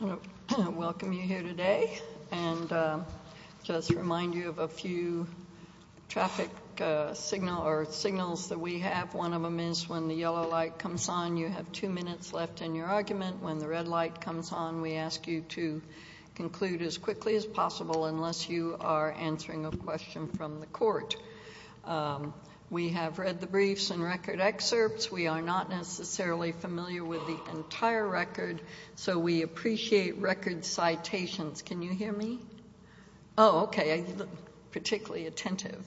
I want to welcome you here today and just remind you of a few traffic signals that we have. One of them is when the yellow light comes on, you have two minutes left in your argument. When the red light comes on, we ask you to conclude as quickly as possible unless you are answering a question from the court. We have read the briefs and record excerpts. We are not necessarily familiar with the entire record, so we appreciate record citations. Can you hear me? Oh, okay. I look particularly attentive.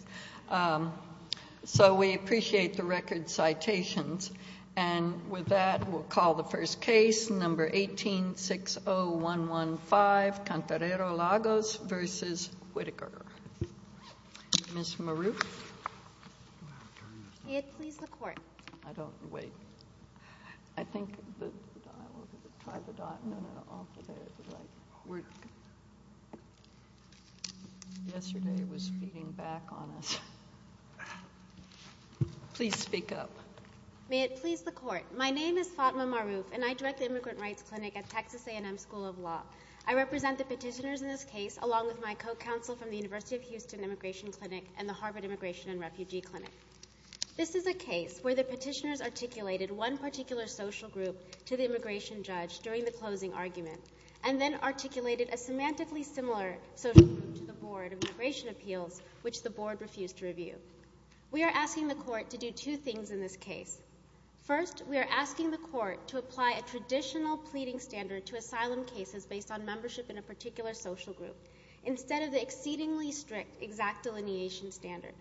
So we appreciate the record citations. And with that, we'll call the first case, number 18-60115, Cantarero-Lagos v. Whitaker. Ms. Maroof? May it please the Court. I don't wait. I think the dial, try the dial. No, no, off to there. Yesterday was beating back on us. Please speak up. May it please the Court. My name is Fatima Maroof, and I direct the Immigrant Rights Clinic at Texas A&M School of Law. I represent the petitioners in this case along with my co-counsel from the University of Houston Immigration Clinic and the Harvard Immigration and Refugee Clinic. This is a case where the petitioners articulated one particular social group to the immigration judge during the closing argument and then articulated a semantically similar social group to the Board of Immigration Appeals, which the Board refused to review. We are asking the Court to do two things in this case. First, we are asking the Court to apply a traditional pleading standard to asylum cases based on membership in a particular social group instead of the exceedingly strict exact delineation standard.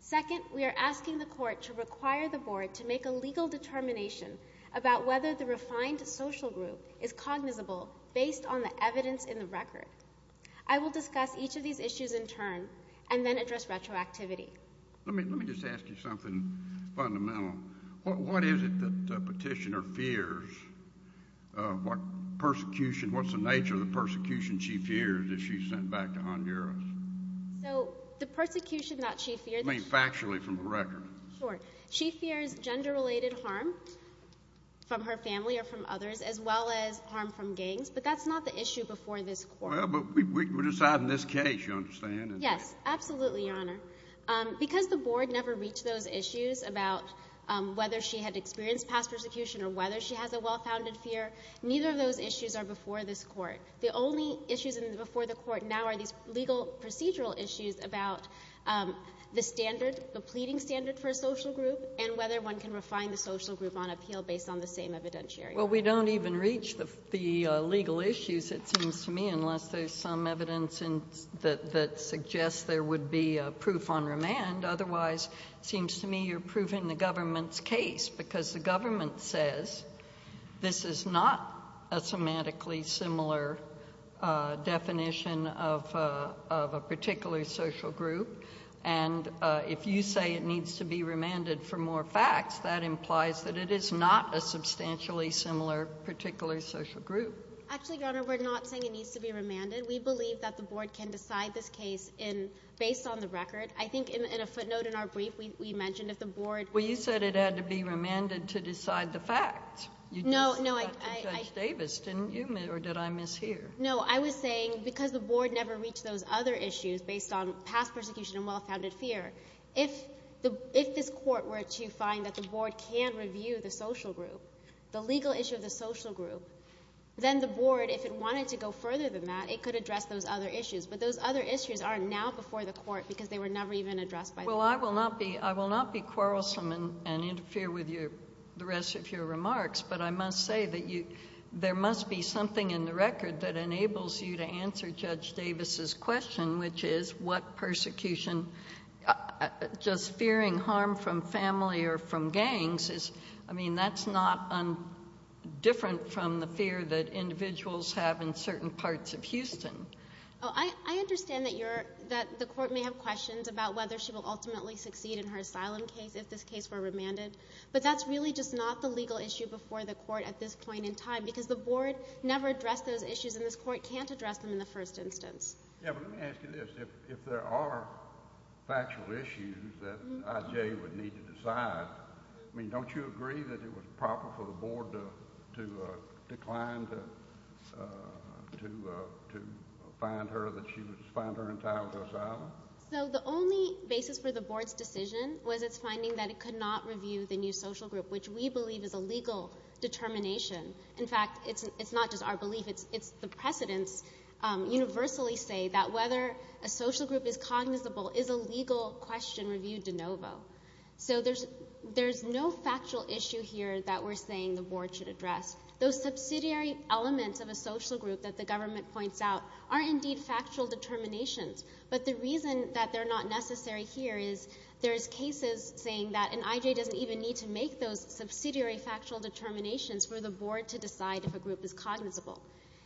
Second, we are asking the Court to require the Board to make a legal determination about whether the refined social group is cognizable based on the evidence in the record. I will discuss each of these issues in turn and then address retroactivity. Let me just ask you something fundamental. What is it that the petitioner fears? What's the nature of the persecution she fears if she's sent back to Honduras? So the persecution that she fears— I mean factually from the record. Sure. She fears gender-related harm from her family or from others as well as harm from gangs, but that's not the issue before this Court. Well, but we're deciding this case, you understand. Yes, absolutely, Your Honor. Because the Board never reached those issues about whether she had experienced past persecution or whether she has a well-founded fear, neither of those issues are before this Court. The only issues before the Court now are these legal procedural issues about the standard, the pleading standard for a social group and whether one can refine the social group on appeal based on the same evidentiary. Well, we don't even reach the legal issues, it seems to me, unless there's some evidence that suggests there would be proof on remand. Otherwise, it seems to me you're proving the government's case because the government says this is not a semantically similar definition of a particular social group, and if you say it needs to be remanded for more facts, that implies that it is not a substantially similar particular social group. Actually, Your Honor, we're not saying it needs to be remanded. We believe that the Board can decide this case based on the record. I think in a footnote in our brief, we mentioned if the Board— Well, you said it had to be remanded to decide the facts. No, no, I— You did say that to Judge Davis, didn't you, or did I miss hear? No, I was saying because the Board never reached those other issues based on past persecution and well-founded fear, if this Court were to find that the Board can review the social group, the legal issue of the social group, then the Board, if it wanted to go further than that, it could address those other issues. But those other issues are now before the Court because they were never even addressed by the Board. Well, I will not be quarrelsome and interfere with the rest of your remarks, but I must say that there must be something in the record that enables you to answer Judge Davis's question, which is what persecution, just fearing harm from family or from gangs, I mean, that's not different from the fear that individuals have in certain parts of Houston. I understand that you're—that the Court may have questions about whether she will ultimately succeed in her asylum case if this case were remanded, but that's really just not the legal issue before the Court at this point in time because the Board never addressed those issues, and this Court can't address them in the first instance. Yeah, but let me ask you this. If there are factual issues that I.J. would need to decide, I mean, don't you agree that it was proper for the Board to decline to find her, that she was—find her entitled to asylum? So the only basis for the Board's decision was its finding that it could not review the new social group, which we believe is a legal determination. In fact, it's not just our belief. The precedents universally say that whether a social group is cognizable is a legal question reviewed de novo. So there's no factual issue here that we're saying the Board should address. Those subsidiary elements of a social group that the government points out are indeed factual determinations, but the reason that they're not necessary here is there's cases saying that an I.J. doesn't even need to make those subsidiary factual determinations for the Board to decide if a group is cognizable.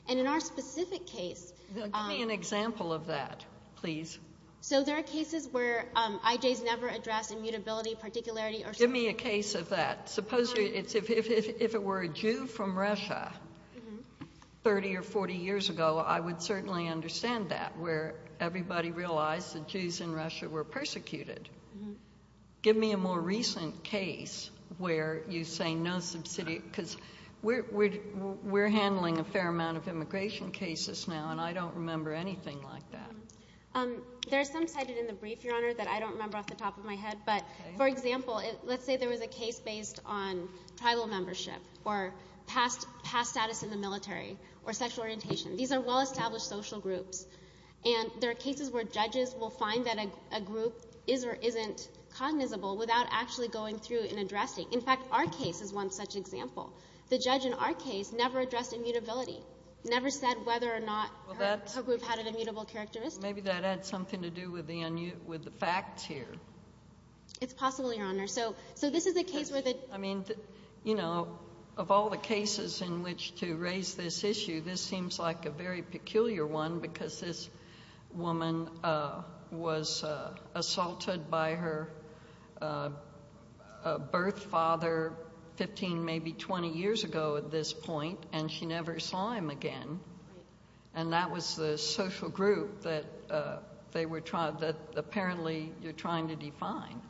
And in our specific case— Give me an example of that, please. So there are cases where I.J.'s never addressed immutability, particularity, or— Give me a case of that. Suppose if it were a Jew from Russia 30 or 40 years ago, I would certainly understand that, where everybody realized that Jews in Russia were persecuted. Give me a more recent case where you say no subsidiary— because we're handling a fair amount of immigration cases now, and I don't remember anything like that. There's some cited in the brief, Your Honor, that I don't remember off the top of my head. But, for example, let's say there was a case based on tribal membership or past status in the military or sexual orientation. These are well-established social groups. And there are cases where judges will find that a group is or isn't cognizable without actually going through and addressing. In fact, our case is one such example. The judge in our case never addressed immutability, never said whether or not her group had an immutable characteristic. Maybe that had something to do with the facts here. It's possible, Your Honor. So this is a case where the— I mean, you know, of all the cases in which to raise this issue, this seems like a very peculiar one because this woman was assaulted by her birth father 15, maybe 20 years ago at this point, and she never saw him again. And that was the social group that they were—that apparently you're trying to define.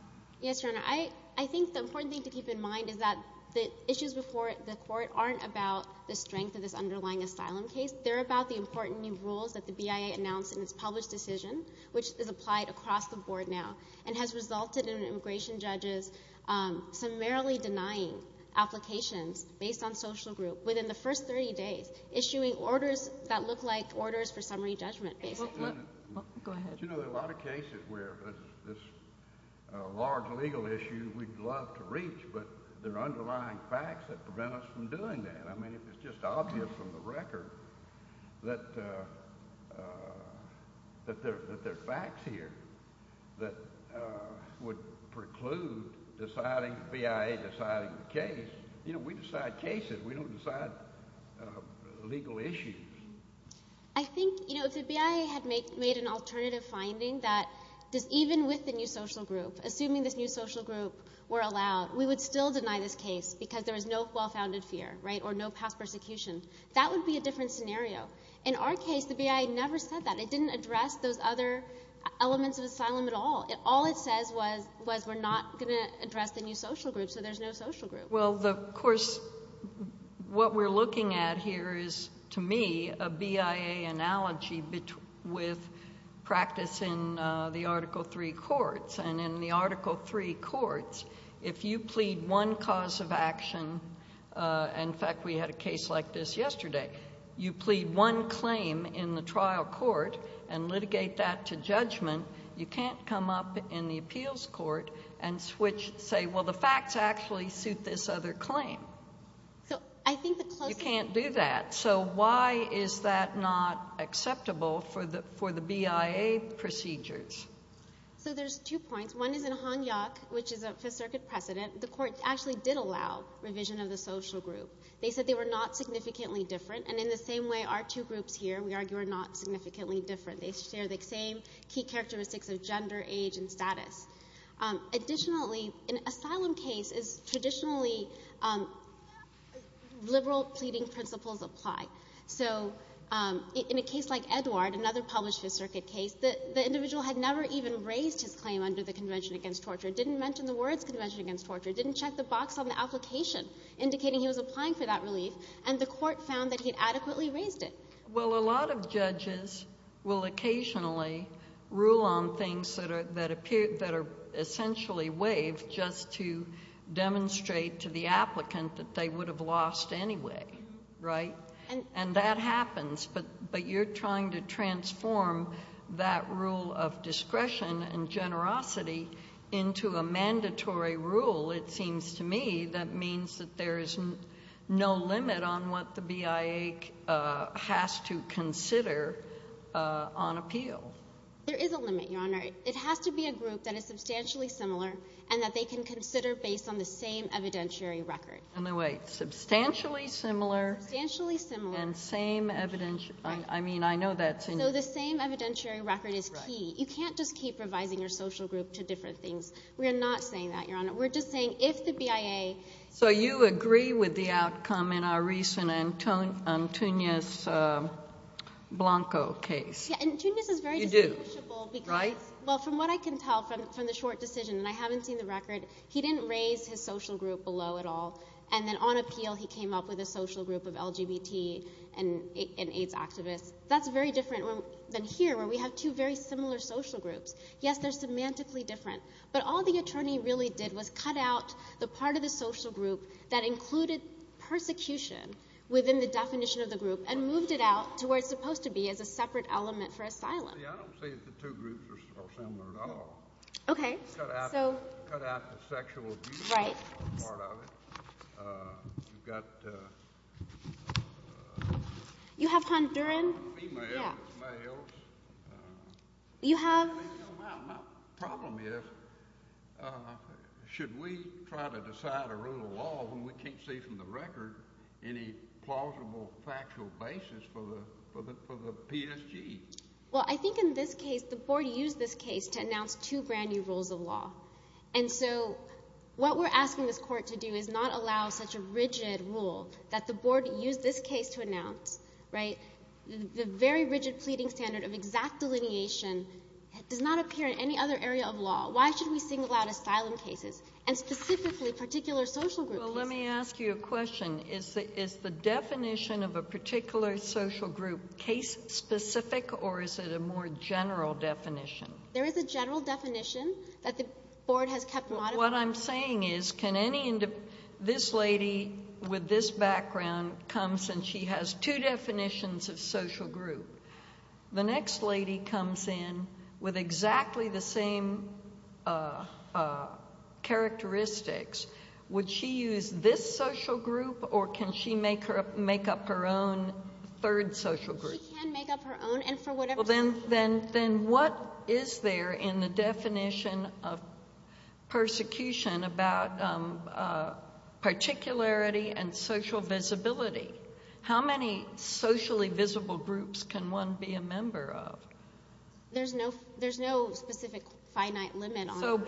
Yes, Your Honor. I think the important thing to keep in mind is that the issues before the court aren't about the strength of this underlying asylum case. They're about the important new rules that the BIA announced in its published decision, which is applied across the board now, and has resulted in immigration judges summarily denying applications based on social group within the first 30 days, issuing orders that look like orders for summary judgment, basically. Go ahead. But, you know, there are a lot of cases where this large legal issue we'd love to reach, but there are underlying facts that prevent us from doing that. I mean, it's just obvious from the record that there are facts here that would preclude the BIA deciding the case. You know, we decide cases. We don't decide legal issues. I think, you know, if the BIA had made an alternative finding that even with the new social group, assuming this new social group were allowed, we would still deny this case because there was no well-founded fear, right, or no past persecution. That would be a different scenario. In our case, the BIA never said that. It didn't address those other elements of asylum at all. All it says was we're not going to address the new social group, so there's no social group. Well, of course, what we're looking at here is, to me, a BIA analogy with practice in the Article III courts. And in the Article III courts, if you plead one cause of action, in fact, we had a case like this yesterday, you plead one claim in the trial court and litigate that to judgment, you can't come up in the appeals court and say, well, the facts actually suit this other claim. You can't do that. So why is that not acceptable for the BIA procedures? So there's two points. One is in Hanyak, which is a Fifth Circuit precedent, the court actually did allow revision of the social group. They said they were not significantly different. And in the same way, our two groups here, we argue, are not significantly different. They share the same key characteristics of gender, age, and status. Additionally, an asylum case is traditionally liberal pleading principles apply. So in a case like Edward, another Published Fifth Circuit case, the individual had never even raised his claim under the Convention Against Torture, didn't mention the words Convention Against Torture, didn't check the box on the application indicating he was applying for that relief, and the court found that he had adequately raised it. Well, a lot of judges will occasionally rule on things that are essentially waived just to demonstrate to the applicant that they would have lost anyway, right? And that happens. But you're trying to transform that rule of discretion and generosity into a mandatory rule, it seems to me, that means that there is no limit on what the BIA has to consider on appeal. There is a limit, Your Honor. It has to be a group that is substantially similar and that they can consider based on the same evidentiary record. Wait. Substantially similar? Substantially similar. And same evidentiary? I mean, I know that's in your... So the same evidentiary record is key. You can't just keep revising your social group to different things. We're not saying that, Your Honor. We're just saying if the BIA... So you agree with the outcome in our recent Antunes Blanco case? Yeah, and Antunes is very distinguishable because... You do, right? Well, from what I can tell from the short decision, and I haven't seen the record, he didn't raise his social group below at all, and then on appeal he came up with a social group of LGBT and AIDS activists. That's very different than here where we have two very similar social groups. Yes, they're semantically different. But all the attorney really did was cut out the part of the social group that included persecution within the definition of the group and moved it out to where it's supposed to be as a separate element for asylum. See, I don't see that the two groups are similar at all. Okay. Cut out the sexual abuse part of it. Right. You've got... You have Honduran... Females, males. You have... My problem is should we try to decide a rule of law when we can't see from the record any plausible factual basis for the PSG? Well, I think in this case the board used this case to announce two brand-new rules of law. And so what we're asking this court to do is not allow such a rigid rule that the board used this case to announce, right? The very rigid pleading standard of exact delineation does not appear in any other area of law. Why should we single out asylum cases and specifically particular social groups? Well, let me ask you a question. Is the definition of a particular social group case-specific or is it a more general definition? There is a general definition that the board has kept modified. What I'm saying is can any... This lady with this background comes and she has two definitions of social group. The next lady comes in with exactly the same characteristics. Would she use this social group or can she make up her own third social group? She can make up her own and for whatever reason. Well, then what is there in the definition of persecution about particularity and social visibility? How many socially visible groups can one be a member of? There's no specific finite limit on... The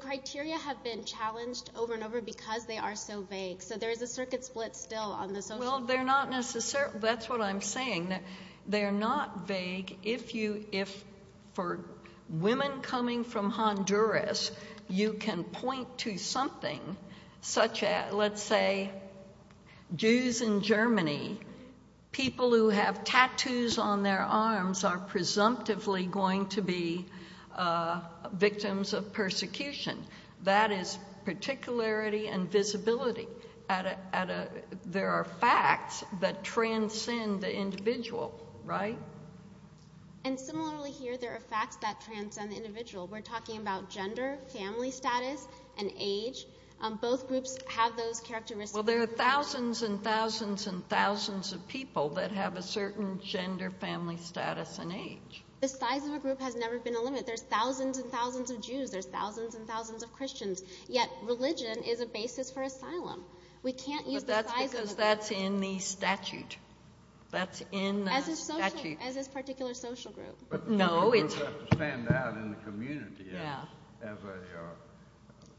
criteria have been challenged over and over because they are so vague. So there is a circuit split still on the social... Well, they're not necessarily... That's what I'm saying. They're not vague. If for women coming from Honduras you can point to something such as, let's say, Jews in Germany, people who have tattoos on their arms are presumptively going to be victims of persecution. That is particularity and visibility. There are facts that transcend the individual, right? And similarly here, there are facts that transcend the individual. We're talking about gender, family status, and age. Both groups have those characteristics. Well, there are thousands and thousands and thousands of people that have a certain gender, family status, and age. The size of a group has never been a limit. There's thousands and thousands of Jews. There's thousands and thousands of Christians. Yet religion is a basis for asylum. We can't use the size of a group... But that's because that's in the statute. That's in the statute. As this particular social group. But the social group has to stand out in the community as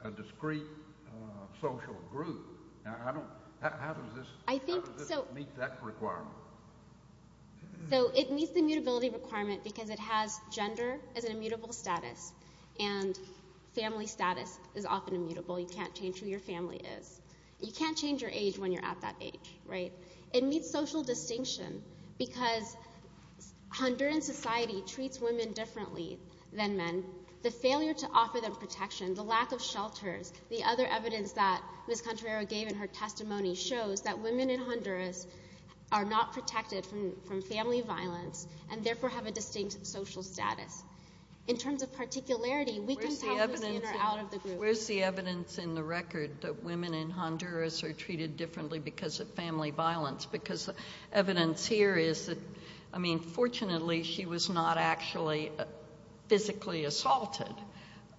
a discreet social group. How does this meet that requirement? So it meets the immutability requirement because it has gender as an immutable status, and family status is often immutable. You can't change who your family is. You can't change your age when you're at that age, right? It meets social distinction because Honduran society treats women differently than men. The failure to offer them protection, the lack of shelters, the other evidence that Ms. Contreras gave in her testimony shows that women in Honduras are not protected from family violence and therefore have a distinct social status. In terms of particularity, we can tell who's in or out of the group. Where's the evidence in the record that women in Honduras are treated differently because of family violence? Because evidence here is that, I mean, fortunately she was not actually physically assaulted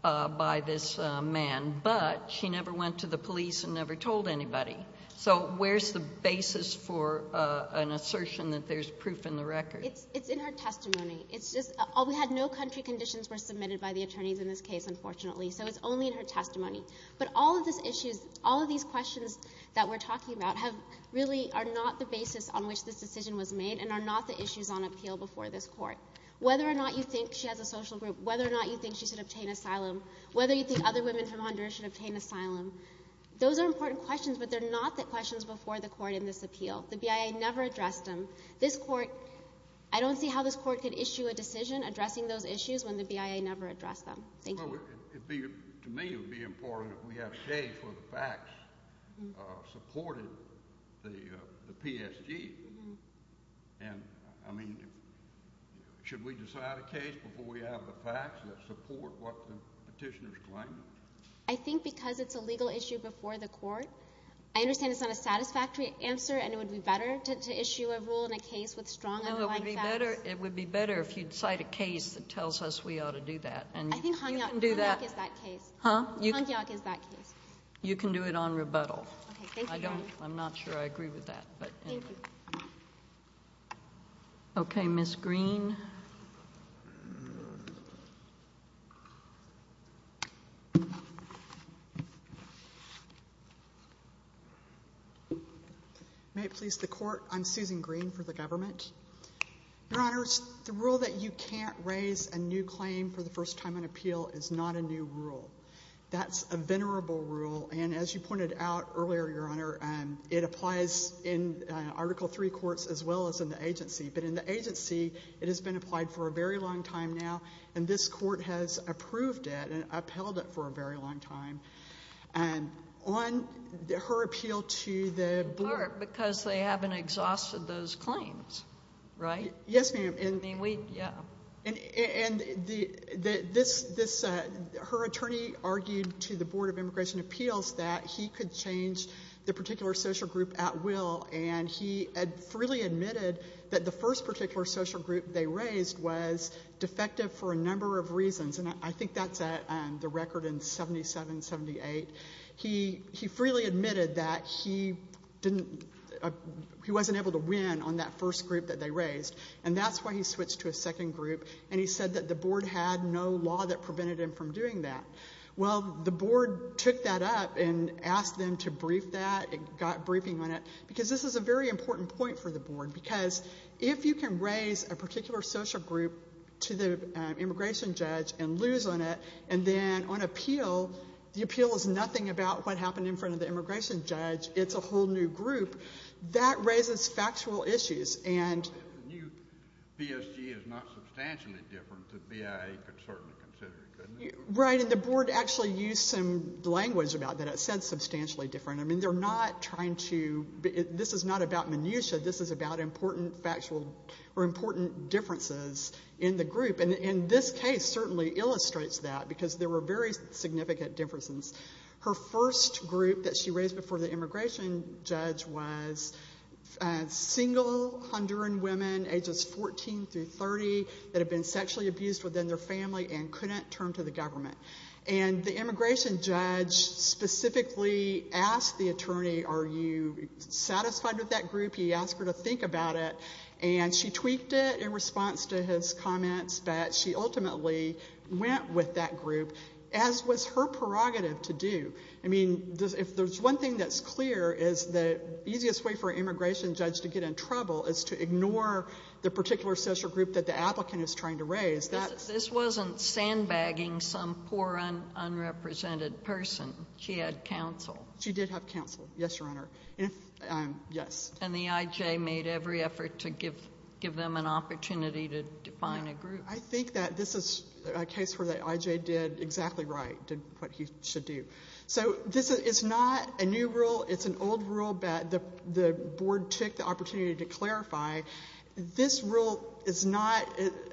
by this man, but she never went to the police and never told anybody. So where's the basis for an assertion that there's proof in the record? It's in her testimony. It's just we had no country conditions were submitted by the attorneys in this case, unfortunately. So it's only in her testimony. But all of these questions that we're talking about really are not the basis on which this decision was made and are not the issues on appeal before this court. Whether or not you think she has a social group, whether or not you think she should obtain asylum, whether you think other women from Honduras should obtain asylum, those are important questions, but they're not the questions before the court in this appeal. The BIA never addressed them. I don't see how this court could issue a decision addressing those issues when the BIA never addressed them. Thank you. You know, to me it would be important that we have a case where the facts supported the PSG. And, I mean, should we decide a case before we have the facts that support what the petitioners claim? I think because it's a legal issue before the court, I understand it's not a satisfactory answer and it would be better to issue a rule in a case with strong underlying facts. No, it would be better if you'd cite a case that tells us we ought to do that. I think Honyak is that case. Huh? Honyak is that case. You can do it on rebuttal. Okay. Thank you, Your Honor. I'm not sure I agree with that. Thank you. Okay, Ms. Green. May it please the Court, I'm Susan Green for the government. Your Honors, the rule that you can't raise a new claim for the first time in appeal is not a new rule. That's a venerable rule. And as you pointed out earlier, Your Honor, it applies in Article III courts as well as in the agency. But in the agency, it has been applied for a very long time now, and this court has approved it and upheld it for a very long time. On her appeal to the board. Because they haven't exhausted those claims, right? Yes, ma'am. I mean, we, yeah. And her attorney argued to the Board of Immigration Appeals that he could change the particular social group at will, and he freely admitted that the first particular social group they raised was defective for a number of reasons, and I think that's the record in 77, 78. He freely admitted that he wasn't able to win on that first group that they raised, and that's why he switched to a second group, and he said that the board had no law that prevented him from doing that. Well, the board took that up and asked them to brief that. It got briefing on it. Because this is a very important point for the board. Because if you can raise a particular social group to the immigration judge and lose on it, and then on appeal, the appeal is nothing about what happened in front of the immigration judge. It's a whole new group. That raises factual issues. And the new BSG is not substantially different than BIA could certainly consider it, couldn't it? Right, and the board actually used some language about that. It said substantially different. I mean, they're not trying to, this is not about minutia. This is about important factual or important differences in the group. And this case certainly illustrates that, because there were very significant differences. Her first group that she raised before the immigration judge was single Honduran women ages 14 through 30 that had been sexually abused within their family and couldn't turn to the government. And the immigration judge specifically asked the attorney, are you satisfied with that group? He asked her to think about it. And she tweaked it in response to his comments that she ultimately went with that group, as was her prerogative to do. I mean, if there's one thing that's clear is the easiest way for an immigration judge to get in trouble is to ignore the particular social group that the applicant is trying to raise. This wasn't sandbagging some poor, unrepresented person. She had counsel. She did have counsel, yes, Your Honor. And the I.J. made every effort to give them an opportunity to define a group. I think that this is a case where the I.J. did exactly right, did what he should do. So this is not a new rule. It's an old rule that the board took the opportunity to clarify. This rule is not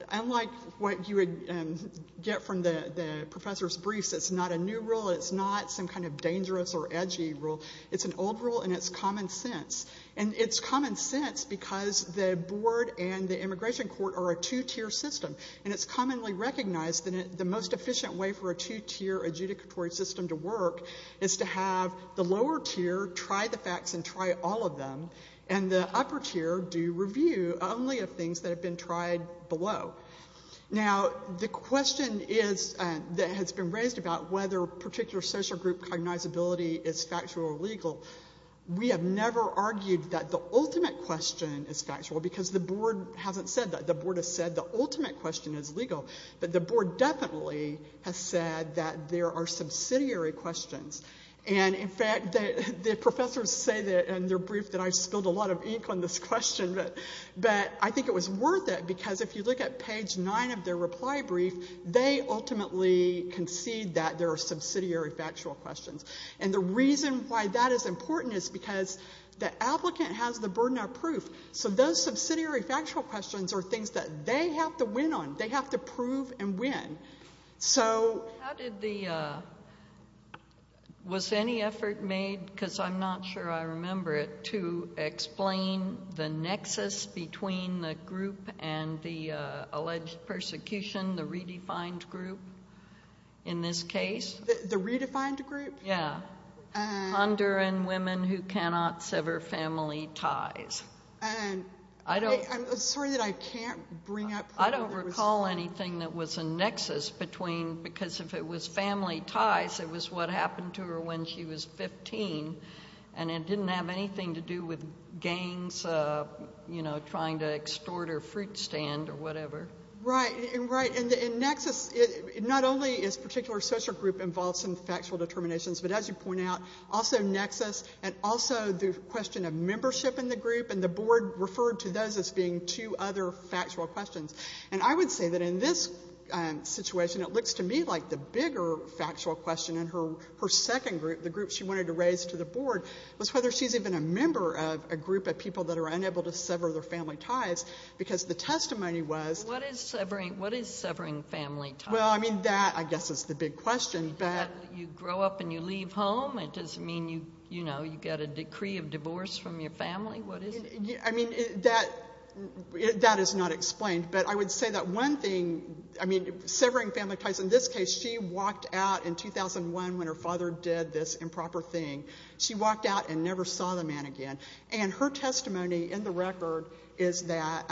unlike what you would get from the professor's briefs. It's not a new rule. It's not some kind of dangerous or edgy rule. It's an old rule, and it's common sense. And it's common sense because the board and the immigration court are a two-tier system, and it's commonly recognized that the most efficient way for a two-tier adjudicatory system to work is to have the lower tier try the facts and try all of them, and the upper tier do review only of things that have been tried below. Now, the question that has been raised about whether particular social group cognizability is factual or legal, we have never argued that the ultimate question is factual because the board hasn't said that. The board has said the ultimate question is legal, but the board definitely has said that there are subsidiary questions. And, in fact, the professors say that in their brief that I spilled a lot of ink on this question, but I think it was worth it because if you look at page 9 of their reply brief, they ultimately concede that there are subsidiary factual questions. And the reason why that is important is because the applicant has the burden of proof, so those subsidiary factual questions are things that they have to win on. They have to prove and win. Was any effort made, because I'm not sure I remember it, to explain the nexus between the group and the alleged persecution, the redefined group, in this case? The redefined group? Yeah. Honduran women who cannot sever family ties. I'm sorry that I can't bring up... I don't recall anything that was a nexus because if it was family ties, it was what happened to her when she was 15, and it didn't have anything to do with gangs trying to extort her fruit stand or whatever. Right. And nexus, not only is a particular social group involved in factual determinations, but as you point out, also nexus and also the question of membership in the group, and the board referred to those as being two other factual questions. And I would say that in this situation it looks to me like the bigger factual question in her second group, the group she wanted to raise to the board, was whether she's even a member of a group of people that are unable to sever their family ties, because the testimony was... What is severing family ties? Well, I mean, that I guess is the big question, but... You grow up and you leave home? It doesn't mean, you know, you've got a decree of divorce from your family? What is it? I mean, that is not explained, but I would say that one thing, I mean, severing family ties in this case, she walked out in 2001 when her father did this improper thing. She walked out and never saw the man again. And her testimony in the record is that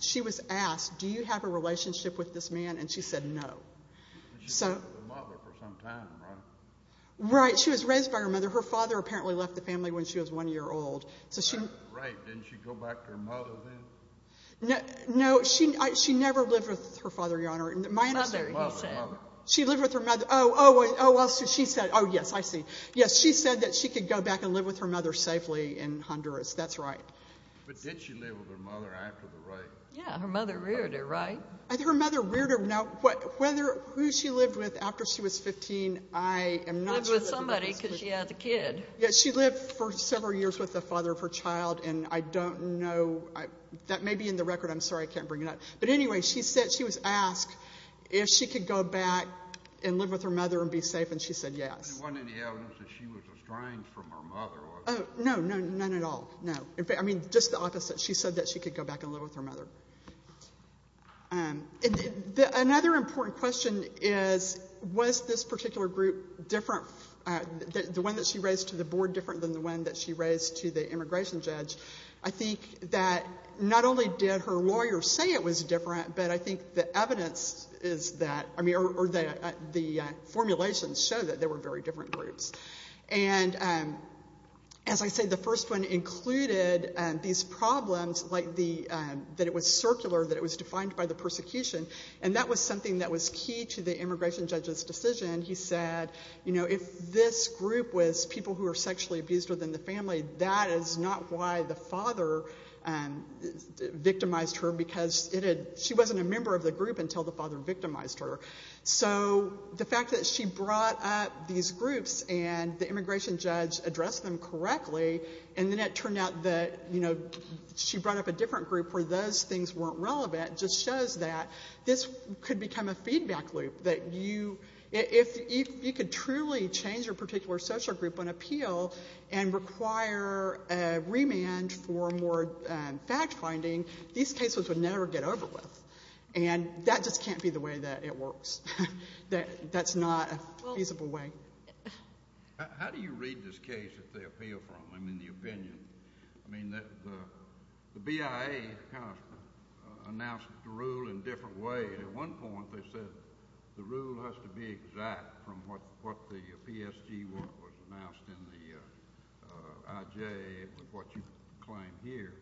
she was asked, do you have a relationship with this man, and she said no. She was with her mother for some time, right? Right. She was raised by her mother. Her father apparently left the family when she was one year old. That's right. Didn't she go back to her mother then? No. She never lived with her father, Your Honor. Mother, he said. She lived with her mother. Oh, yes, I see. Yes, she said that she could go back and live with her mother safely in Honduras. That's right. But did she live with her mother after the rape? Yeah, her mother reared her, right? Her mother reared her. Now, who she lived with after she was 15, I am not sure. She lived with somebody because she had the kid. Yes, she lived for several years with the father of her child, and I don't know. That may be in the record. I'm sorry I can't bring it up. But anyway, she said she was asked if she could go back and live with her mother and be safe, and she said yes. There wasn't any evidence that she was estranged from her mother, was there? No, no, none at all, no. I mean, just the opposite. She said that she could go back and live with her mother. Another important question is, was this particular group different, the one that she raised to the board different than the one that she raised to the immigration judge? I think that not only did her lawyer say it was different, but I think the evidence is that, I mean, or the formulations show that they were very different groups. And as I said, the first one included these problems that it was circular, that it was defined by the persecution, and that was something that was key to the immigration judge's decision. He said, you know, if this group was people who were sexually abused within the family, that is not why the father victimized her because she wasn't a member of the group until the father victimized her. So the fact that she brought up these groups and the immigration judge addressed them correctly, and then it turned out that, you know, she brought up a different group where those things weren't relevant, just shows that this could become a feedback loop, that you, if you could truly change your particular social group on appeal and require a remand for more fact-finding, these cases would never get over with. And that just can't be the way that it works. That's not a feasible way. How do you read this case that they appeal from? I mean, the opinion. I mean, the BIA kind of announced the rule in different ways. At one point they said the rule has to be exact from what the PSG was announced in the IJ with what you claim here.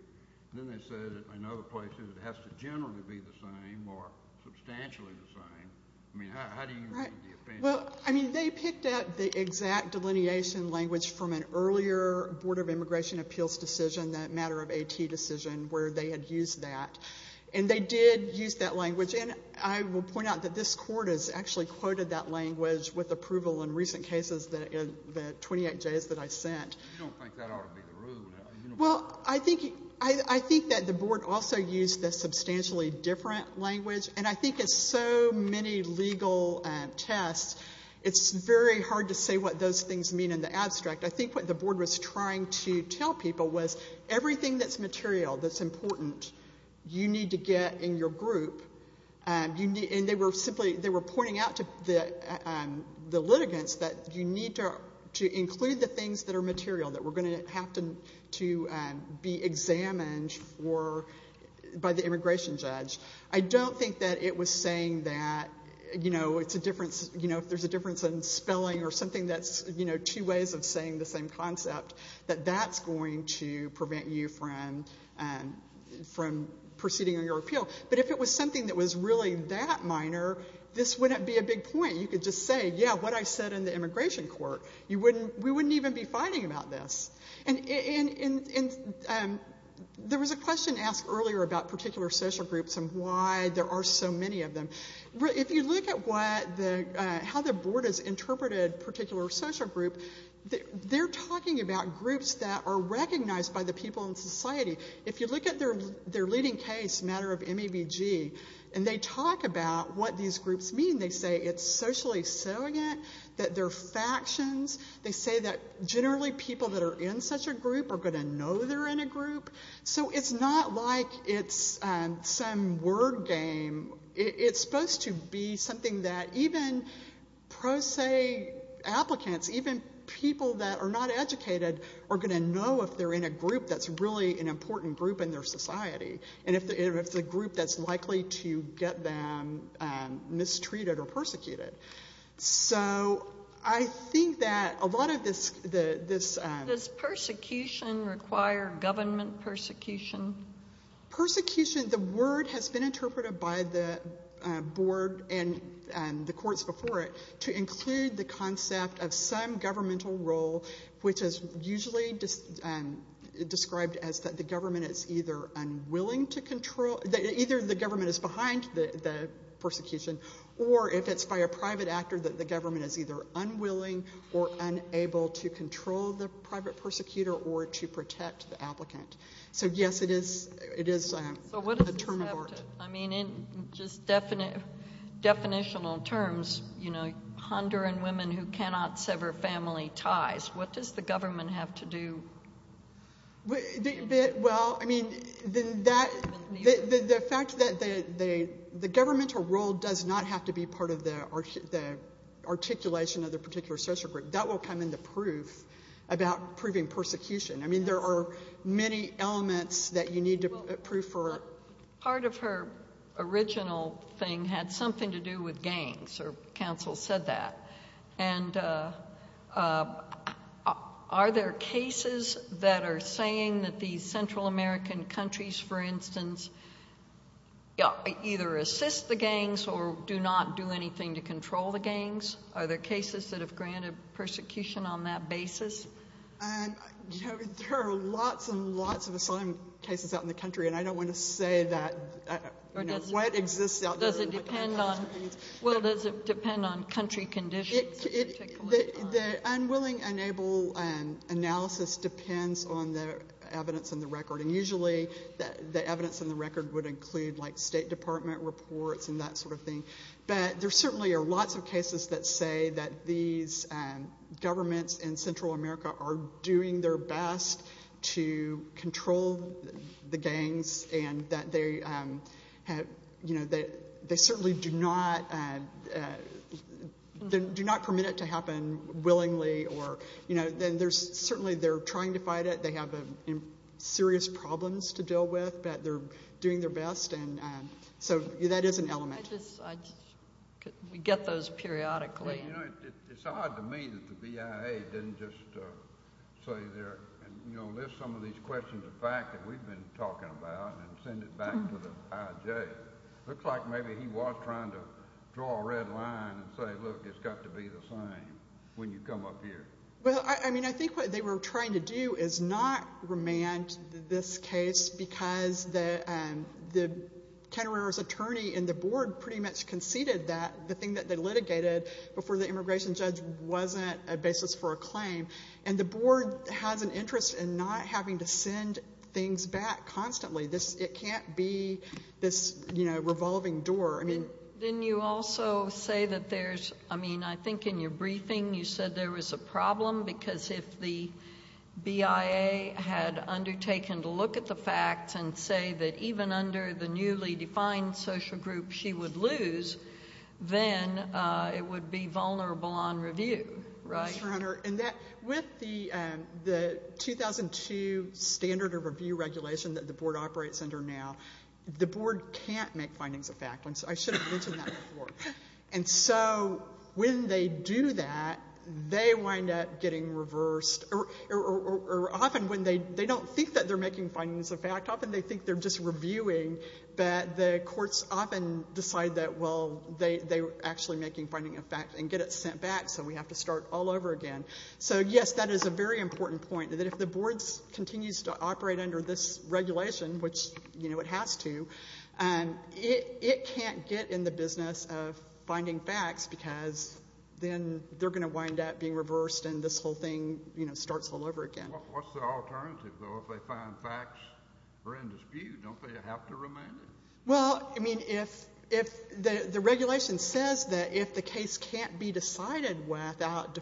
And then they said in other places it has to generally be the same or substantially the same. I mean, how do you read the opinion? Well, I mean, they picked out the exact delineation language from an earlier Board of Immigration Appeals decision, that matter of AT decision, where they had used that. And they did use that language. And I will point out that this Court has actually quoted that language with approval in recent cases, the 28Js that I sent. I don't think that ought to be the rule. Well, I think that the Board also used the substantially different language. And I think it's so many legal tests, it's very hard to say what those things mean in the abstract. I think what the Board was trying to tell people was everything that's material, that's important, you need to get in your group. And they were simply pointing out to the litigants that you need to include the things that are material, that we're going to have to be examined by the immigration judge. I don't think that it was saying that, you know, it's a difference, you know, if there's a difference in spelling or something that's, you know, two ways of saying the same concept, that that's going to prevent you from proceeding on your appeal. But if it was something that was really that minor, this wouldn't be a big point. You could just say, yeah, what I said in the immigration court. We wouldn't even be fighting about this. And there was a question asked earlier about particular social groups and why there are so many of them. If you look at how the Board has interpreted particular social groups, they're talking about groups that are recognized by the people in society. If you look at their leading case, the matter of MEBG, and they talk about what these groups mean. They say it's socially salient, that they're factions. They say that generally people that are in such a group are going to know they're in a group. So it's not like it's some word game. It's supposed to be something that even pro se applicants, even people that are not educated, are going to know if they're in a group that's really an important group in their society. And if it's a group that's likely to get them mistreated or persecuted. So I think that a lot of this- Does persecution require government persecution? Persecution, the word has been interpreted by the Board and the courts before it to include the concept of some governmental role, which is usually described as that the government is either unwilling to control- either the government is behind the persecution, or if it's by a private actor that the government is either unwilling or unable to control the private persecutor or to protect the applicant. So, yes, it is a term of art. I mean, in just definitional terms, you know, Honduran women who cannot sever family ties. What does the government have to do? Well, I mean, the fact that the governmental role does not have to be part of the articulation of the particular social group. That will come in the proof about proving persecution. I mean, there are many elements that you need to prove for- Part of her original thing had something to do with gangs, or counsel said that. And are there cases that are saying that these Central American countries, for instance, either assist the gangs or do not do anything to control the gangs? Are there cases that have granted persecution on that basis? There are lots and lots of asylum cases out in the country, and I don't want to say what exists out there. Well, does it depend on country conditions? The unwilling, unable analysis depends on the evidence in the record, and usually the evidence in the record would include, like, State Department reports and that sort of thing. But there certainly are lots of cases that say that these governments in Central America are doing their best to control the gangs and that they certainly do not permit it to happen willingly. Certainly they're trying to fight it. They have serious problems to deal with, but they're doing their best. So that is an element. We get those periodically. Well, you know, it's odd to me that the BIA didn't just say they're going to lift some of these questions of fact that we've been talking about and send it back to the IJ. It looks like maybe he was trying to draw a red line and say, look, it's got to be the same when you come up here. Well, I mean, I think what they were trying to do is not remand this case because the countererrorist attorney in the board pretty much conceded that the thing that they litigated before the immigration judge wasn't a basis for a claim. And the board has an interest in not having to send things back constantly. It can't be this, you know, revolving door. Didn't you also say that there's, I mean, I think in your briefing you said there was a problem because if the BIA had undertaken to look at the facts and say that even under the newly defined social group she would lose, then it would be vulnerable on review, right? Yes, Your Honor, and with the 2002 standard of review regulation that the board operates under now, the board can't make findings of fact. I should have mentioned that before. And so when they do that, they wind up getting reversed, or often when they don't think that they're making findings of fact, often they think they're just reviewing, but the courts often decide that, well, they're actually making findings of fact and get it sent back, so we have to start all over again. So, yes, that is a very important point, that if the board continues to operate under this regulation, which, you know, it has to, it can't get in the business of finding facts because then they're going to wind up being reversed and this whole thing, you know, starts all over again. What's the alternative, though, if they find facts that are in dispute? Don't they have to remand it? Well, I mean, if the regulation says that if the case can't be decided without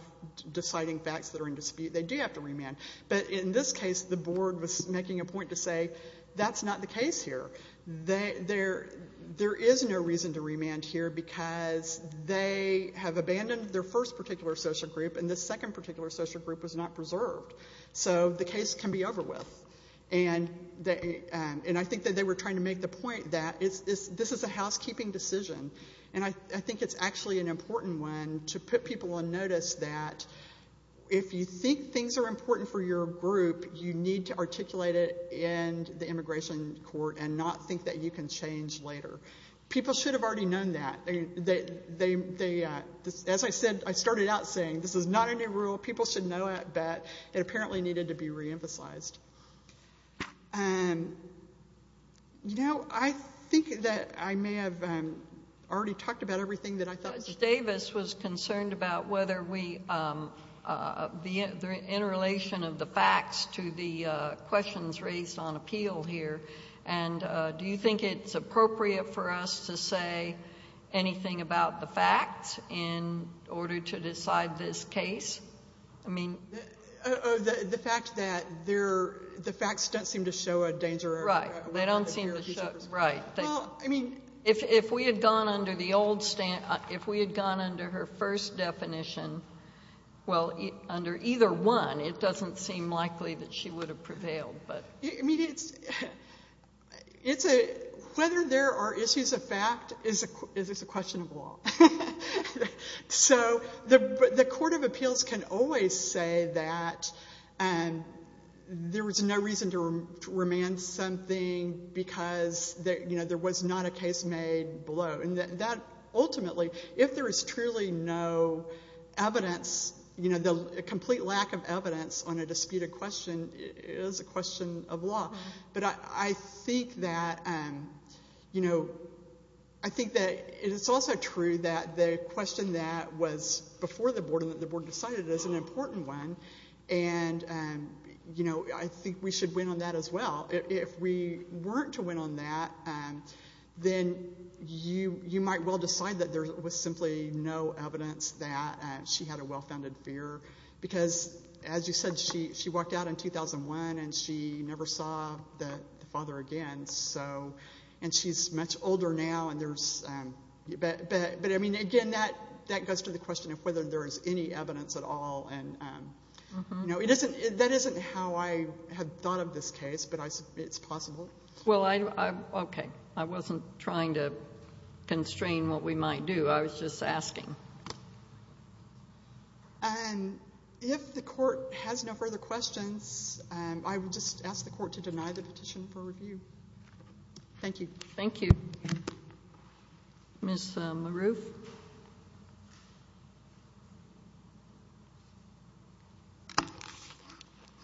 deciding facts that are in dispute, they do have to remand. But in this case, the board was making a point to say that's not the case here. There is no reason to remand here because they have abandoned their first particular social group and this second particular social group was not preserved, so the case can be over with. And I think that they were trying to make the point that this is a housekeeping decision, and I think it's actually an important one to put people on notice that if you think things are important for your group, you need to articulate it in the immigration court and not think that you can change later. People should have already known that. As I said, I started out saying this is not a new rule. People should know it, but it apparently needed to be reemphasized. You know, I think that I may have already talked about everything that I thought. Judge Davis was concerned about whether we, in relation of the facts to the questions raised on appeal here, and do you think it's appropriate for us to say anything about the facts in order to decide this case? The fact that the facts don't seem to show a danger. Right, they don't seem to show, right. If we had gone under her first definition, well, under either one, it doesn't seem likely that she would have prevailed. I mean, whether there are issues of fact is a question of law. So the court of appeals can always say that there was no reason to remand something because there was not a case made below. Ultimately, if there is truly no evidence, a complete lack of evidence on a disputed question is a question of law. But I think that it's also true that the question that was before the board and that the board decided is an important one, and I think we should win on that as well. If we weren't to win on that, then you might well decide that there was simply no evidence that she had a well-founded fear because, as you said, she walked out in 2001 and she never saw the father again. And she's much older now. But, I mean, again, that goes to the question of whether there is any evidence at all. That isn't how I had thought of this case, but it's possible. Well, okay. I wasn't trying to constrain what we might do. I was just asking. If the court has no further questions, I would just ask the court to deny the petition for review. Thank you. Thank you. Ms. LaRouf.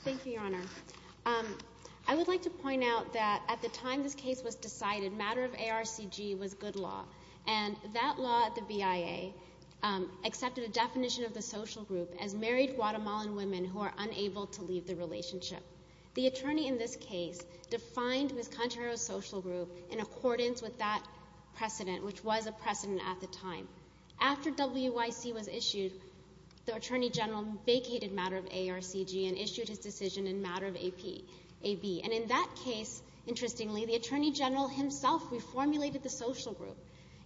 Thank you, Your Honor. I would like to point out that at the time this case was decided, matter of ARCG was good law, and that law at the BIA accepted a definition of the social group as married Guatemalan women who are unable to leave the relationship. The attorney in this case defined Ms. Contreras' social group in accordance with that precedent, which was a precedent at the time. After WYC was issued, the attorney general vacated matter of ARCG and issued his decision in matter of AB. And in that case, interestingly, the attorney general himself reformulated the social group.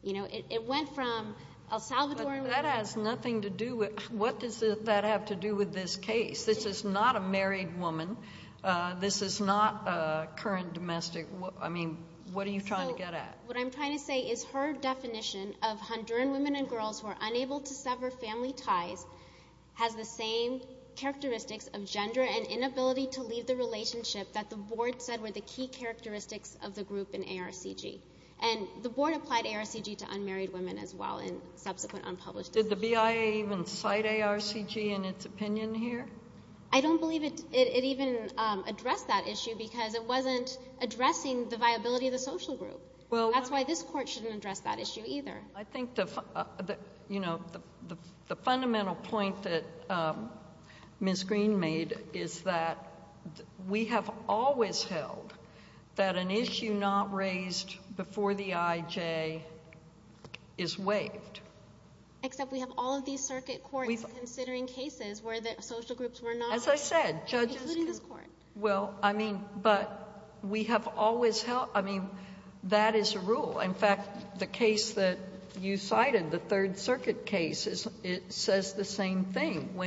It went from El Salvadoran women. But that has nothing to do with what does that have to do with this case. This is not a married woman. This is not a current domestic. I mean, what are you trying to get at? What I'm trying to say is her definition of Honduran women and girls who are unable to sever family ties has the same characteristics of gender and inability to leave the relationship that the board said were the key characteristics of the group in ARCG. And the board applied ARCG to unmarried women as well in subsequent unpublished decisions. Did the BIA even cite ARCG in its opinion here? I don't believe it even addressed that issue because it wasn't addressing the viability of the social group. That's why this court shouldn't address that issue either. I think the fundamental point that Ms. Green made is that we have always held that an issue not raised before the IJ is waived. Except we have all of these circuit courts considering cases where the social groups were not included in this court. As I said, judges can, well, I mean, but we have always held, I mean, that is a rule. In fact, the case that you cited, the Third Circuit case, it says the same thing.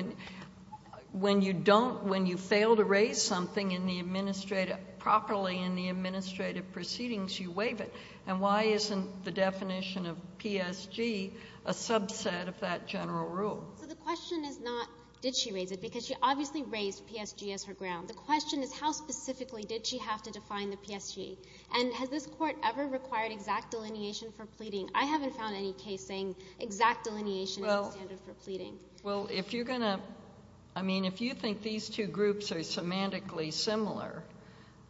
When you don't, when you fail to raise something in the administrative, properly in the administrative proceedings, you waive it. And why isn't the definition of PSG a subset of that general rule? So the question is not did she raise it because she obviously raised PSG as her ground. The question is how specifically did she have to define the PSG? And has this court ever required exact delineation for pleading? I haven't found any case saying exact delineation is the standard for pleading. Well, if you're going to, I mean, if you think these two groups are semantically similar,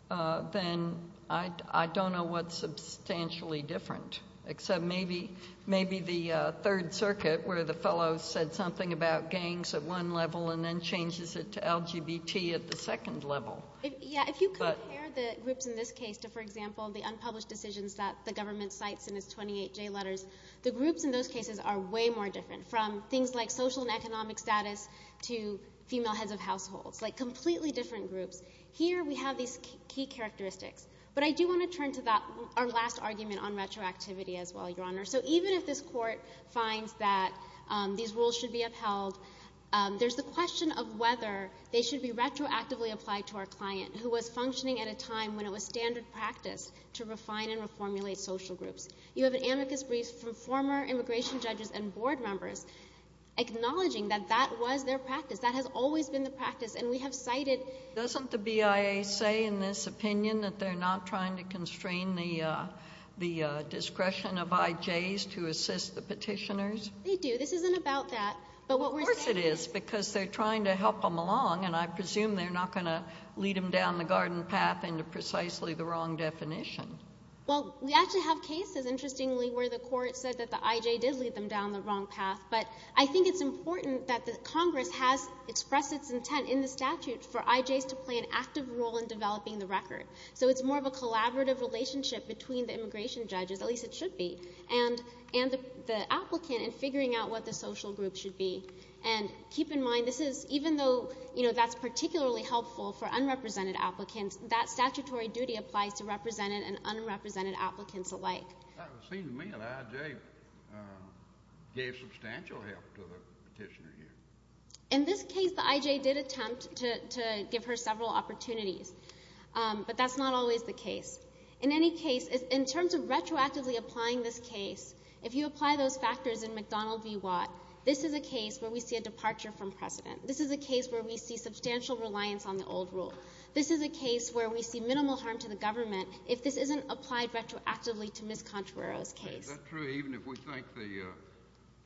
then I don't know what's substantially different. Except maybe the Third Circuit where the fellow said something about gangs at one level and then changes it to LGBT at the second level. Yeah, if you compare the groups in this case to, for example, the unpublished decisions that the government cites in its 28J letters, the groups in those cases are way more different from things like social and economic status to female heads of households, like completely different groups. Here we have these key characteristics. But I do want to turn to our last argument on retroactivity as well, Your Honor. So even if this court finds that these rules should be upheld, there's the question of whether they should be retroactively applied to our client who was functioning at a time when it was standard practice to refine and reformulate social groups. You have an amicus brief from former immigration judges and board members acknowledging that that was their practice, that has always been the practice, and we have cited Doesn't the BIA say in this opinion that they're not trying to constrain the discretion of IJs to assist the petitioners? They do. This isn't about that. Of course it is, because they're trying to help them along, and I presume they're not going to lead them down the garden path into precisely the wrong definition. Well, we actually have cases, interestingly, where the court said that the IJ did lead them down the wrong path. But I think it's important that Congress has expressed its intent in the statute for IJs to play an active role in developing the record. So it's more of a collaborative relationship between the immigration judges, at least it should be, and the applicant in figuring out what the social group should be. And keep in mind, even though that's particularly helpful for unrepresented applicants, that statutory duty applies to represented and unrepresented applicants alike. It seems to me that IJ gave substantial help to the petitioner here. In this case, the IJ did attempt to give her several opportunities, but that's not always the case. In any case, in terms of retroactively applying this case, if you apply those factors in McDonnell v. Watt, this is a case where we see a departure from precedent. This is a case where we see substantial reliance on the old rule. This is a case where we see minimal harm to the government if this isn't applied retroactively to Ms. Contreras' case. Is that true even if we think the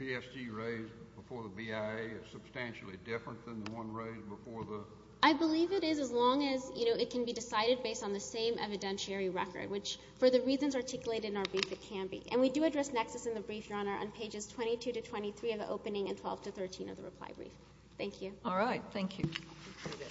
PSG raised before the BIA is substantially different than the one raised before the – I believe it is as long as it can be decided based on the same evidentiary record, which for the reasons articulated in our brief, it can be. And we do address nexus in the brief, Your Honor, on pages 22 to 23 of the opening and 12 to 13 of the reply brief. Thank you. All right. Thank you. Thank you.